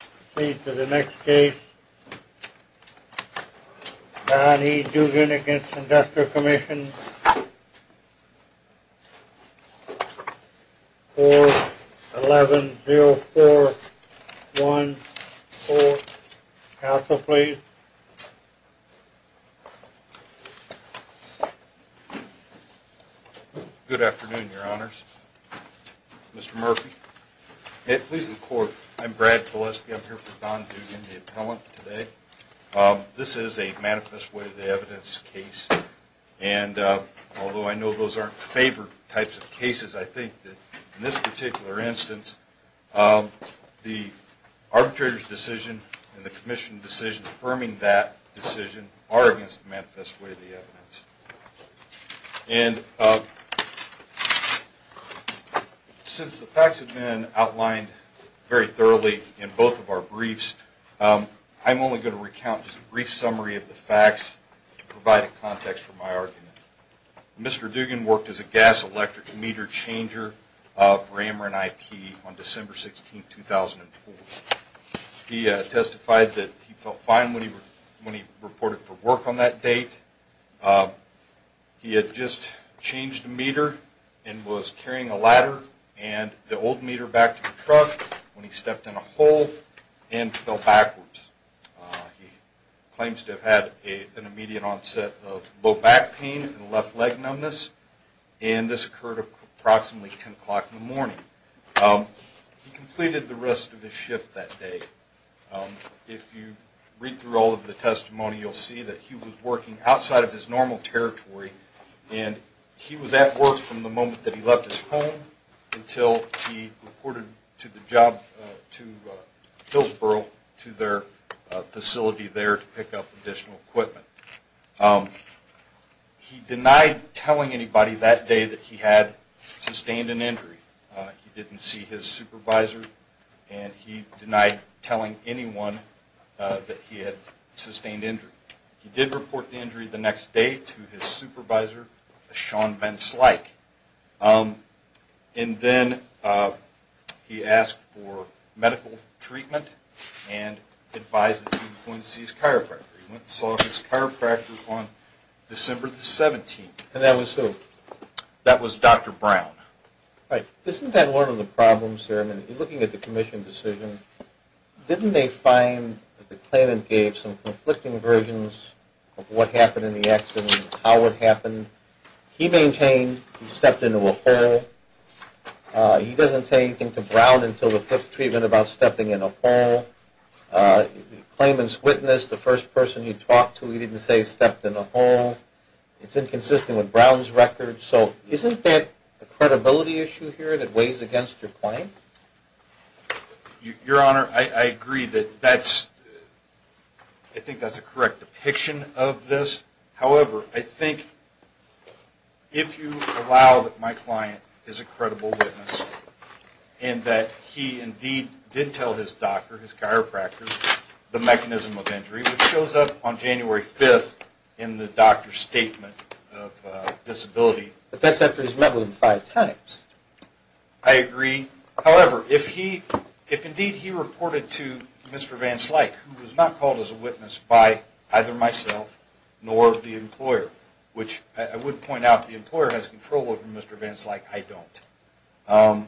We proceed to the next case, Don E. Dugan v. Industrial Commission, 4-1104-14. Counsel, please. Good afternoon, your honors. Mr. Murphy. Please, the court. I'm Brad Pileski. I'm here for Don Dugan, the appellant, today. This is a manifest way of the evidence case. And although I know those aren't favored types of cases, I think that in this particular instance, the arbitrator's decision and the commission's decision affirming that decision are against the manifest way of the evidence. And since the facts have been outlined very thoroughly in both of our briefs, I'm only going to recount just a brief summary of the facts to provide a context for my argument. Mr. Dugan worked as a gas electric meter changer for Ameren IP on December 16, 2004. He testified that he felt fine when he reported for work on that date. He had just changed a meter and was carrying a ladder and the old meter back to the truck when he stepped in a hole and fell backwards. He claims to have had an immediate onset of low back pain and left leg numbness. And this occurred approximately 10 o'clock in the morning. He completed the rest of his shift that day. If you read through all of the testimony, you'll see that he was working outside of his normal territory. And he was at work from the moment that he left his home until he reported to the job, to Hillsboro, to their facility there to pick up additional equipment. He denied telling anybody that day that he had sustained an injury. He didn't see his supervisor and he denied telling anyone that he had sustained injury. He did report the injury the next day to his supervisor, Sean Benslyke. And then he asked for medical treatment and advised that he was going to see his chiropractor. He went and saw his chiropractor on December 17. And that was who? That was Dr. Brown. Isn't that one of the problems here? I mean, looking at the commission decision, didn't they find that the claimant gave some conflicting versions of what happened in the accident and how it happened? He maintained he stepped into a hole. He doesn't say anything to Brown until the fifth treatment about stepping in a hole. The claimant's witness, the first person he talked to, he didn't say stepped in a hole. It's inconsistent with Brown's record. So isn't that a credibility issue here that weighs against your claim? Your Honor, I agree that that's, I think that's a correct depiction of this. However, I think if you allow that my client is a credible witness and that he indeed did tell his doctor, his chiropractor, the mechanism of injury, which shows up on January 5 in the doctor's statement of disability. But that's after he's met with him five times. I agree. However, if indeed he reported to Mr. Van Slyke, who was not called as a witness by either myself nor the employer, which I would point out the employer has control over Mr. Van Slyke, I don't.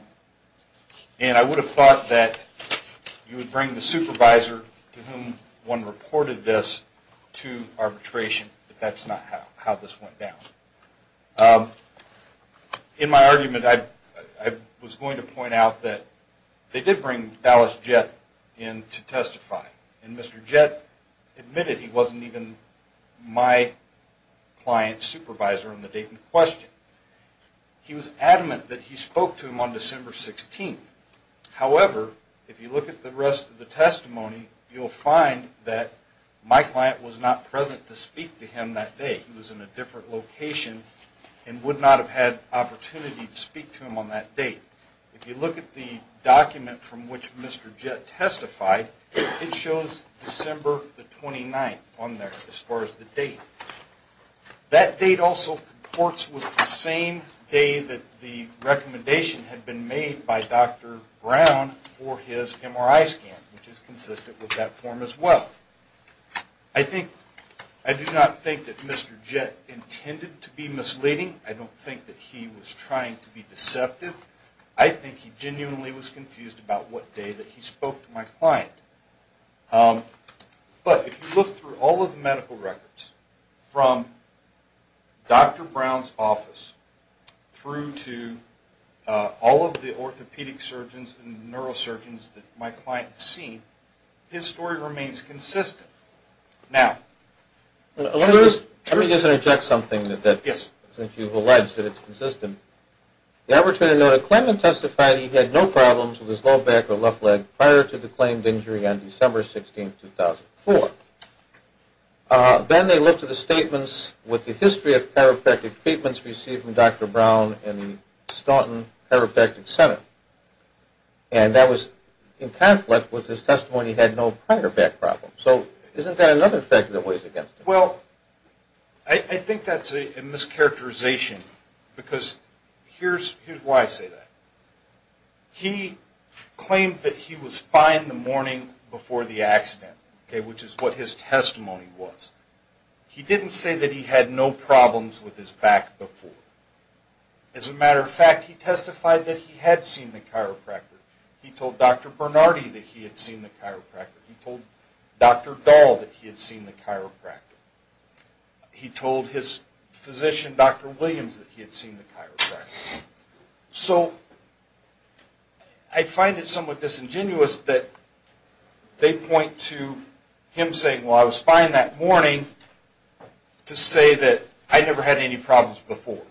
And I would have thought that you would bring the supervisor to whom one reported this to arbitration, but that's not how this went down. In my argument, I was going to point out that they did bring Dallas Jett in to testify. And Mr. Jett admitted he wasn't even my client's supervisor on the date in question. He was adamant that he spoke to him on December 16. However, if you look at the rest of the testimony, you'll find that my client was not present to speak to him that day. He was in a different location and would not have had opportunity to speak to him on that date. If you look at the document from which Mr. Jett testified, it shows December the 29th on there as far as the date. That date also reports with the same day that the recommendation had been made by Dr. Brown for his MRI scan, which is consistent with that form as well. I do not think that Mr. Jett intended to be misleading. I don't think that he was trying to be deceptive. I think he genuinely was confused about what day that he spoke to my client. But if you look through all of the medical records, from Dr. Brown's office through to all of the orthopedic surgeons and neurosurgeons that my client has seen, his story remains consistent. Now, let me just interject something since you've alleged that it's consistent. The arbitrator noted that Clement testified that he had no problems with his low back or left leg prior to the claimed injury on December 16, 2004. Then they looked at the statements with the history of chiropractic treatments received from Dr. Brown and the Staunton Chiropractic Center. And that was in conflict with his testimony that he had no prior back problem. So isn't that another fact that weighs against him? Well, I think that's a mischaracterization because here's why I say that. He claimed that he was fine the morning before the accident, which is what his testimony was. He didn't say that he had no problems with his back before. As a matter of fact, he testified that he had seen the chiropractor. He told Dr. Bernardi that he had seen the chiropractor. He told Dr. Dahl that he had seen the chiropractor. He told his physician, Dr. Williams, that he had seen the chiropractor. So I find it somewhat disingenuous that they point to him saying, well, I was fine that morning, to say that I never had any problems before.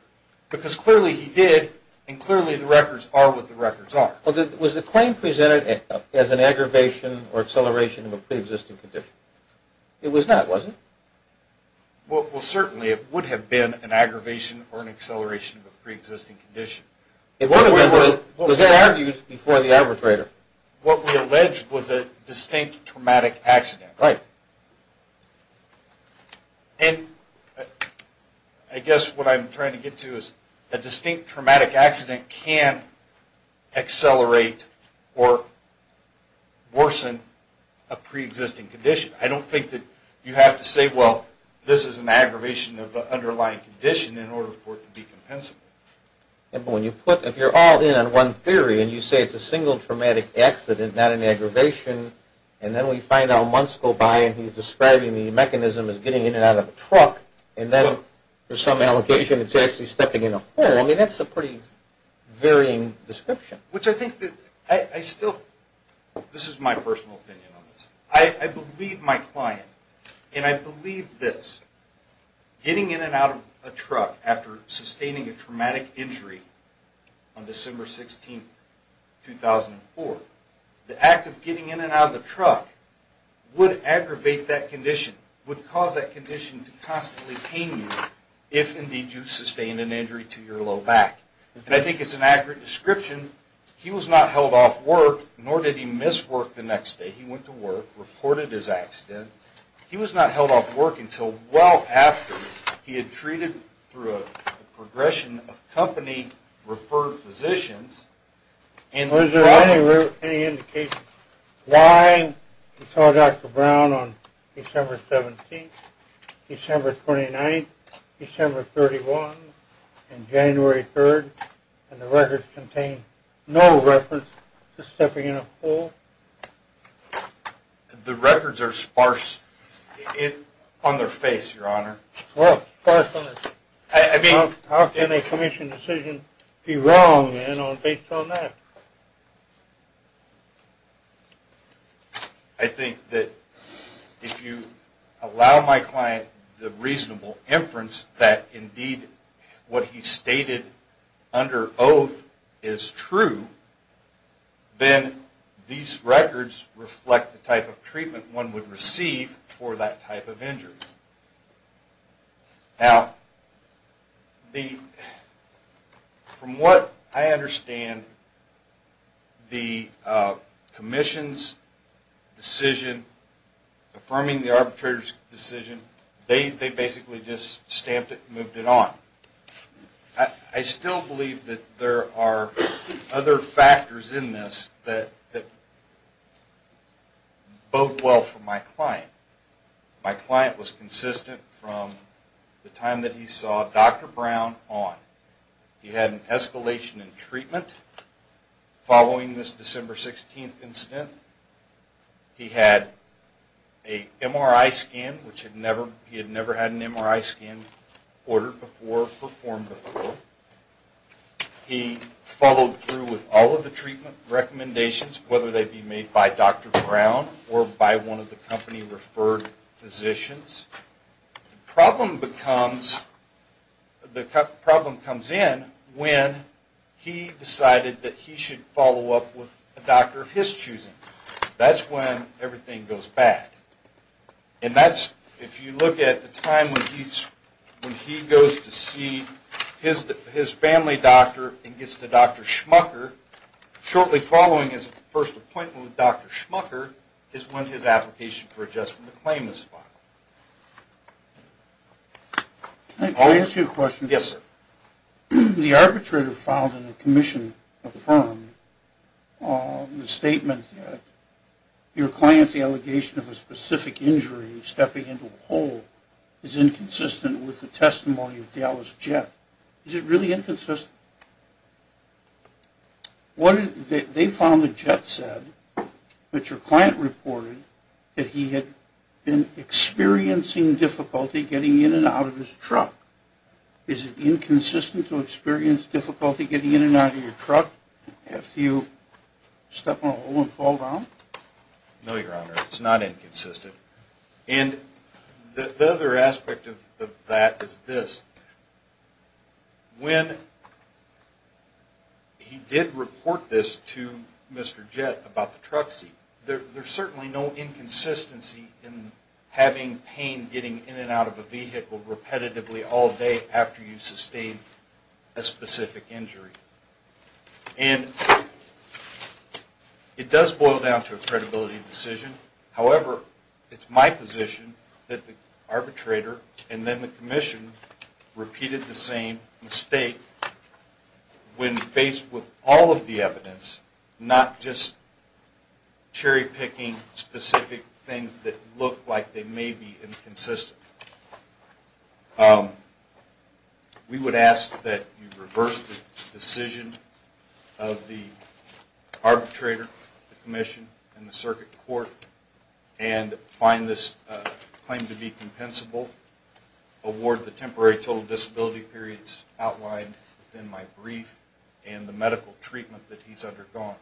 Because clearly he did, and clearly the records are what the records are. Was the claim presented as an aggravation or acceleration of a pre-existing condition? It was not, was it? Well, certainly it would have been an aggravation or an acceleration of a pre-existing condition. Was that argued before the arbitrator? What we alleged was a distinct traumatic accident. Right. And I guess what I'm trying to get to is a distinct traumatic accident can accelerate or worsen a pre-existing condition. I don't think that you have to say, well, this is an aggravation of an underlying condition in order for it to be compensable. If you're all in on one theory and you say it's a single traumatic accident, not an aggravation, and then we find out months go by and he's describing the mechanism as getting in and out of a truck, and then for some allocation it's actually stepping in a hole, I mean, that's a pretty varying description. Which I think that I still, this is my personal opinion on this, I believe my client, and I believe this, getting in and out of a truck after sustaining a traumatic injury on December 16, 2004, the act of getting in and out of the truck would aggravate that condition, would cause that condition to constantly pain you if indeed you sustained an injury to your low back. And I think it's an accurate description. He was not held off work, nor did he miss work the next day. He went to work, reported his accident. He was not held off work until well after he had treated through a progression of company referred physicians. Is there any indication why you saw Dr. Brown on December 17th, December 29th, December 31st, and January 3rd, and the records contain no reference to stepping in a hole? The records are sparse on their face, your honor. Well, sparse on their, how can a commission decision be wrong based on that? I think that if you allow my client the reasonable inference that indeed what he stated under oath is true, then these records reflect the type of treatment one would receive for that type of injury. Now, from what I understand, the commission's decision, affirming the arbitrator's decision, they basically just stamped it and moved it on. I still believe that there are other factors in this that bode well for my client. My client was consistent from the time that he saw Dr. Brown on. He had an escalation in treatment following this December 16th incident. He had a MRI scan, which he had never had an MRI scan ordered before, performed before. He followed through with all of the treatment recommendations, whether they be made by Dr. Brown or by one of the company-referred physicians. The problem comes in when he decided that he should follow up with a doctor of his choosing. That's when everything goes bad. And that's, if you look at the time when he goes to see his family doctor and gets to Dr. Schmucker, shortly following his first appointment with Dr. Schmucker is when his application for adjustment to claim is filed. Can I ask you a question? Yes, sir. The arbitrator filed and the commission affirmed the statement that your client's allegation of a specific injury, stepping into a hole, is inconsistent with the testimony of Dallas Jett. Is it really inconsistent? Yes. They found that Jett said that your client reported that he had been experiencing difficulty getting in and out of his truck. Is it inconsistent to experience difficulty getting in and out of your truck after you step in a hole and fall down? No, Your Honor. It's not inconsistent. And the other aspect of that is this. When he did report this to Mr. Jett about the truck seat, there's certainly no inconsistency in having pain getting in and out of a vehicle repetitively all day after you've sustained a specific injury. And it does boil down to a credibility decision. However, it's my position that the arbitrator and then the commission repeated the same mistake when based with all of the evidence, not just cherry-picking specific things that look like they may be inconsistent. We would ask that you reverse the decision of the arbitrator, the commission, and the circuit court and find this claim to be compensable. Award the temporary total disability periods outlined in my brief and the medical treatment that he's undergone.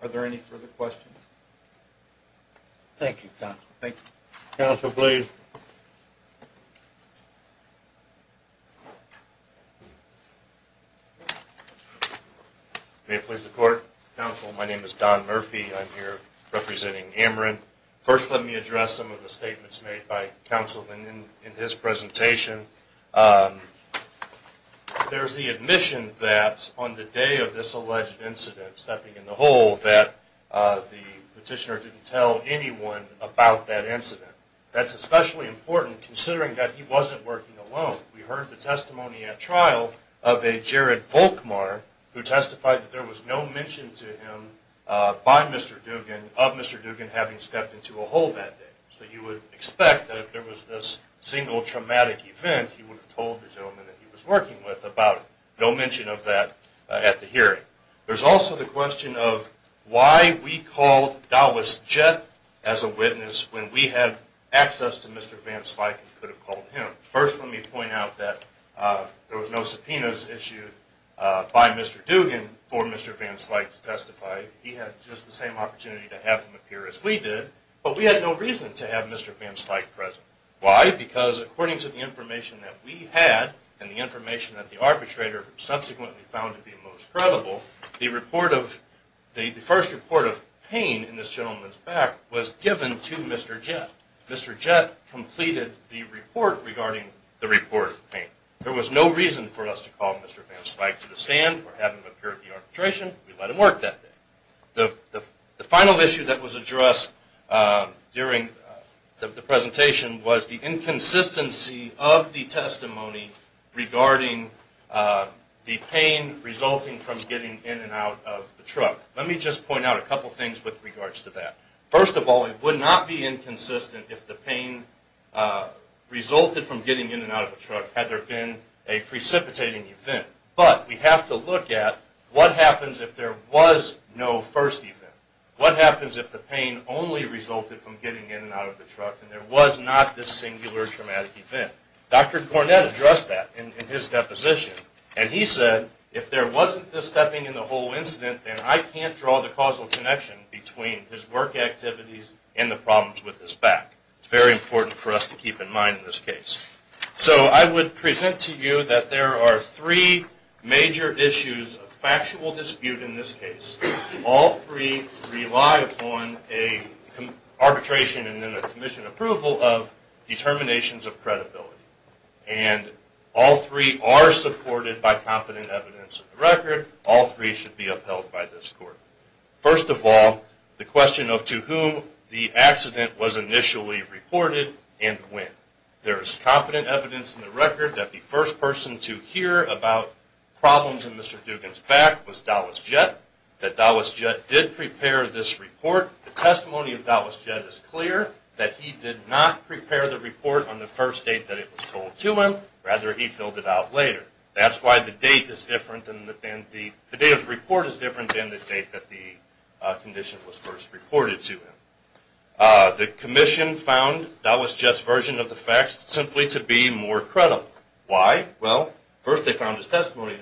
Are there any further questions? Thank you, counsel. Thank you. Counsel, please. May it please the court. Counsel, my name is Don Murphy. I'm here representing Amarant. First, let me address some of the statements made by counsel in his presentation. There's the admission that on the day of this alleged incident, stepping in the hole, that the petitioner didn't tell anyone about that incident. That's especially important considering that he wasn't working alone. We heard the testimony at trial of a Jared Volkmar who testified that there was no mention to him by Mr. Dugan of Mr. Dugan having stepped into a hole that day. So you would expect that if there was this single traumatic event, he would have told the gentleman that he was working with about no mention of that at the hearing. There's also the question of why we called Dallas Jett as a witness when we had access to Mr. Van Slyke and could have called him. First, let me point out that there was no subpoenas issued by Mr. Dugan for Mr. Van Slyke to testify. He had just the same opportunity to have him appear as we did, but we had no reason to have Mr. Van Slyke present. Why? Because according to the information that we had and the information that the arbitrator subsequently found to be most credible, the first report of pain in this gentleman's back was given to Mr. Jett. Mr. Jett completed the report regarding the report of pain. There was no reason for us to call Mr. Van Slyke to the stand or have him appear at the arbitration. We let him work that day. The final issue that was addressed during the presentation was the inconsistency of the testimony regarding the pain resulting from getting in and out of the truck. Let me just point out a couple things with regards to that. First of all, it would not be inconsistent if the pain resulted from getting in and out of the truck had there been a precipitating event. But we have to look at what happens if there was no first event. What happens if the pain only resulted from getting in and out of the truck and there was not this singular traumatic event? Dr. Cornett addressed that in his deposition. And he said, if there wasn't this stepping in the hole incident, then I can't draw the causal connection between his work activities and the problems with his back. It's very important for us to keep in mind in this case. So I would present to you that there are three major issues of factual dispute in this case. All three rely upon an arbitration and then a commission approval of determinations of credibility. And all three are supported by competent evidence of the record. All three should be upheld by this court. First of all, the question of to whom the accident was initially reported and when. There is competent evidence in the record that the first person to hear about problems in Mr. Dugan's back was Dallas Jett. That Dallas Jett did prepare this report. The testimony of Dallas Jett is clear that he did not prepare the report on the first date that it was told to him. Rather, he filled it out later. That's why the date of the report is different than the date that the condition was first reported to him. The commission found Dallas Jett's version of the facts simply to be more credible. Why? First of all, they found his testimony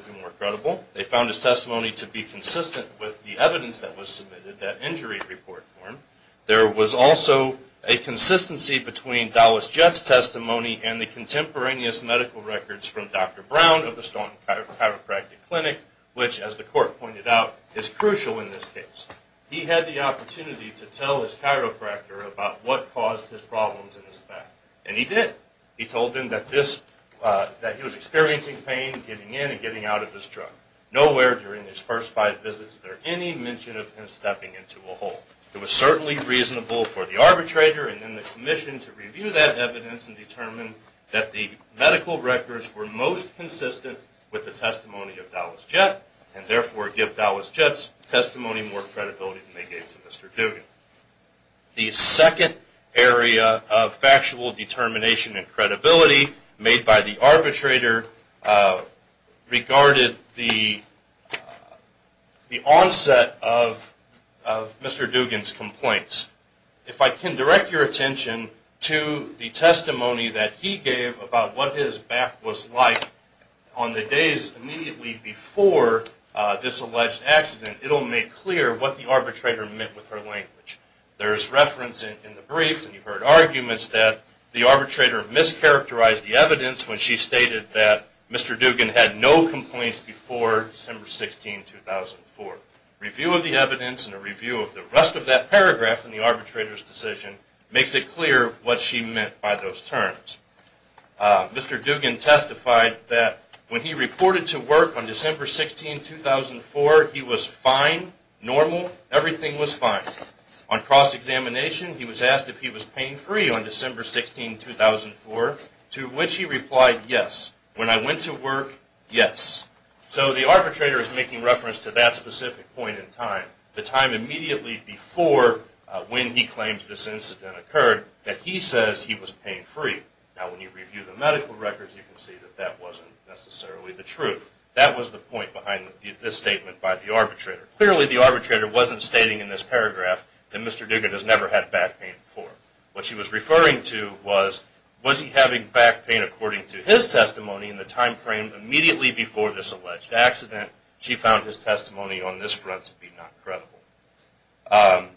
to be consistent with the evidence that was submitted, that injury report, for him. There was also a consistency between Dallas Jett's testimony and the contemporaneous medical records from Dr. Brown of the Staunton Chiropractic Clinic, which, as the court pointed out, is crucial in this case. He had the opportunity to tell his chiropractor about what caused his problems in his back. And he did. He told him that he was experiencing pain getting in and getting out of his truck. Nowhere during his first five visits was there any mention of him stepping into a hole. It was certainly reasonable for the arbitrator and then the commission to review that evidence and determine that the medical records were most consistent with the testimony of Dallas Jett, and therefore give Dallas Jett's testimony more credibility than they gave to Mr. Dugan. The second area of factual determination and credibility made by the arbitrator regarded the onset of Mr. Dugan's complaints. If I can direct your attention to the testimony that he gave about what his back was like on the days immediately before this alleged accident, it will make clear what the arbitrator meant with her language. There is reference in the briefs and you've heard arguments that the arbitrator mischaracterized the evidence when she stated that Mr. Dugan had no complaints before December 16, 2004. Review of the evidence and a review of the rest of that paragraph in the arbitrator's decision makes it clear what she meant by those terms. Mr. Dugan testified that when he reported to work on December 16, 2004, he was fine, normal, everything was fine. On cross-examination, he was asked if he was pain-free on December 16, 2004, to which he replied yes. When I went to work, yes. So the arbitrator is making reference to that specific point in time, the time immediately before when he claims this incident occurred, that he says he was pain-free. Now, when you review the medical records, you can see that that wasn't necessarily the truth. That was the point behind this statement by the arbitrator. Clearly, the arbitrator wasn't stating in this paragraph that Mr. Dugan has never had back pain before. What she was referring to was, was he having back pain according to his testimony in the time frame immediately before this alleged accident? She found his testimony on this front to be not credible.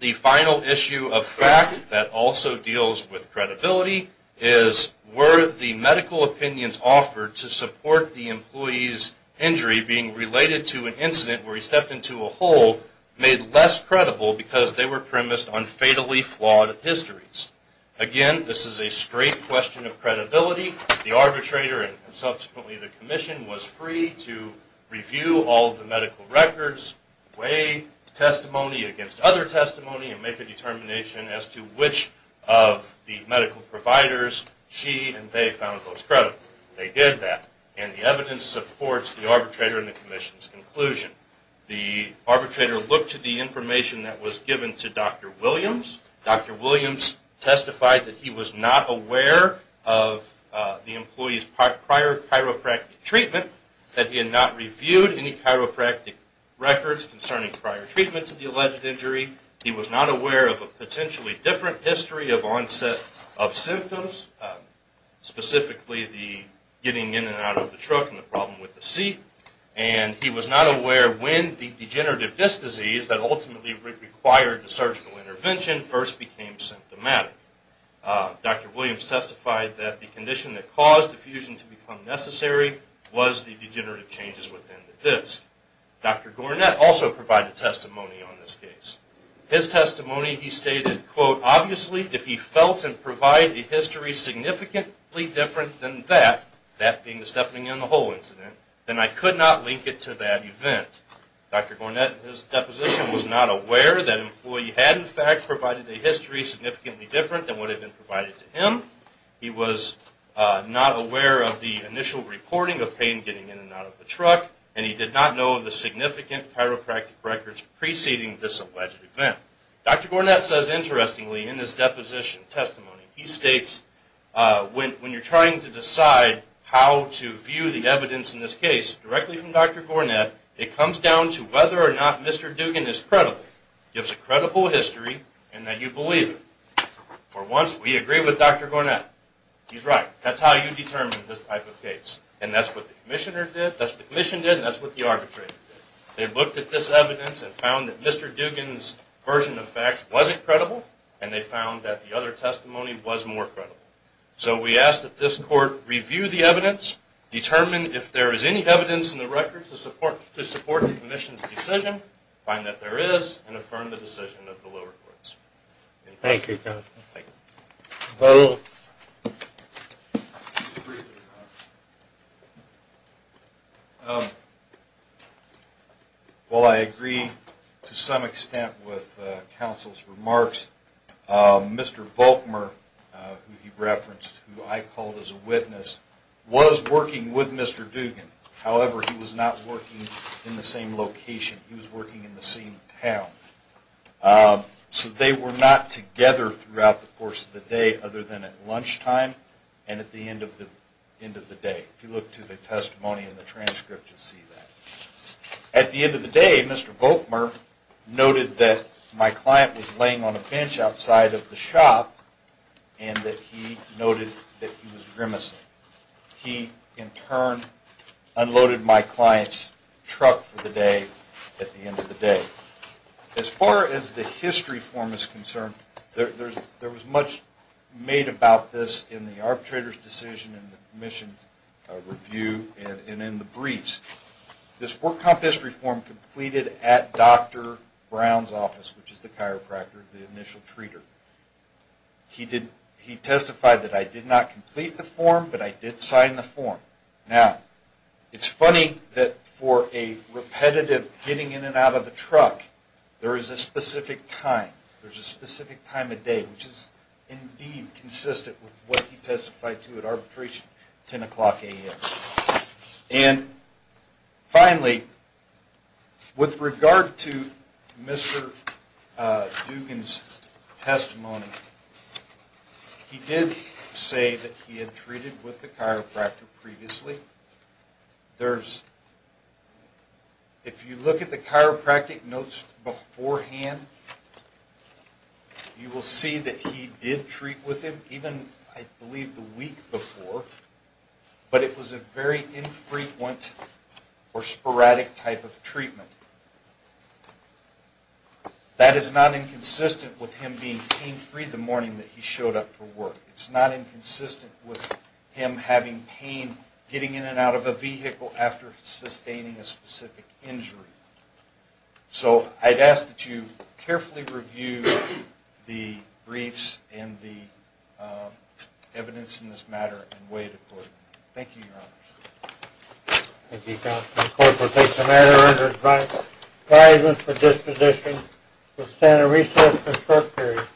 The final issue of fact that also deals with credibility is, were the medical opinions offered to support the employee's injury being related to an incident where he stepped into a hole made less credible because they were premised on fatally flawed histories? Again, this is a straight question of credibility. The arbitrator and subsequently the commission was free to review all the medical records, weigh testimony against other testimony, and make a determination as to which of the medical providers she and they found most credible. They did that. And the evidence supports the arbitrator and the commission's conclusion. The arbitrator looked at the information that was given to Dr. Williams. Dr. Williams testified that he was not aware of the employee's prior chiropractic treatment, that he had not reviewed any chiropractic records concerning prior treatments of the alleged injury. He was not aware of a potentially different history of onset of symptoms, specifically the getting in and out of the truck and the problem with the seat. And he was not aware when the degenerative disc disease that ultimately required the surgical intervention first became symptomatic. Dr. Williams testified that the condition that caused the fusion to become necessary was the degenerative changes within the disc. Dr. Gornett also provided testimony on this case. His testimony, he stated, quote, Obviously, if he felt and provided a history significantly different than that, that being the Stephanie and the Hole incident, then I could not link it to that event. Dr. Gornett, in his deposition, was not aware that an employee had, in fact, provided a history significantly different than what had been provided to him. He was not aware of the initial reporting of pain getting in and out of the truck, and he did not know of the significant chiropractic records preceding this alleged event. Dr. Gornett says, interestingly, in his deposition testimony, he states, When you're trying to decide how to view the evidence in this case, directly from Dr. Gornett, it comes down to whether or not Mr. Dugan is credible. He has a credible history, and that you believe him. For once, we agree with Dr. Gornett. He's right. That's how you determine this type of case. And that's what the commissioner did, that's what the commission did, and that's what the arbitrator did. They looked at this evidence and found that Mr. Dugan's version of facts wasn't credible, and they found that the other testimony was more credible. So we ask that this court review the evidence, determine if there is any evidence in the record to support the commission's decision, find that there is, and affirm the decision of the lower courts. Thank you, counsel. Thank you. Well, I agree to some extent with counsel's remarks. Mr. Volkmer, who he referenced, who I called as a witness, was working with Mr. Dugan. However, he was not working in the same location. He was working in the same town. So they were not together throughout the course of the day other than at lunchtime and at the end of the day. If you look to the testimony in the transcript, you'll see that. At the end of the day, Mr. Volkmer noted that my client was laying on a bench outside of the shop and that he noted that he was grimacing. He, in turn, unloaded my client's truck for the day at the end of the day. As far as the history form is concerned, there was much made about this in the arbitrator's decision and the commission's review and in the briefs. This work comp history form completed at Dr. Brown's office, which is the chiropractor, the initial treater. He testified that I did not complete the form, but I did sign the form. Now, it's funny that for a repetitive getting in and out of the truck, there is a specific time. There's a specific time of day, which is indeed consistent with what he testified to at arbitration, 10 o'clock a.m. And finally, with regard to Mr. Dugan's testimony, he did say that he had treated with the chiropractor previously. If you look at the chiropractic notes beforehand, you will see that he did treat with him, even, I believe, the week before, but it was a very infrequent or sporadic type of treatment. That is not inconsistent with him being pain-free the morning that he showed up for work. It's not inconsistent with him having pain getting in and out of a vehicle after sustaining a specific injury. So, I'd ask that you carefully review the briefs and the evidence in this matter and weigh it accordingly. Thank you, Your Honor. Thank you, Counsel. The court will take the matter under advisement for disposition to a standard resource for a short period. Thank you.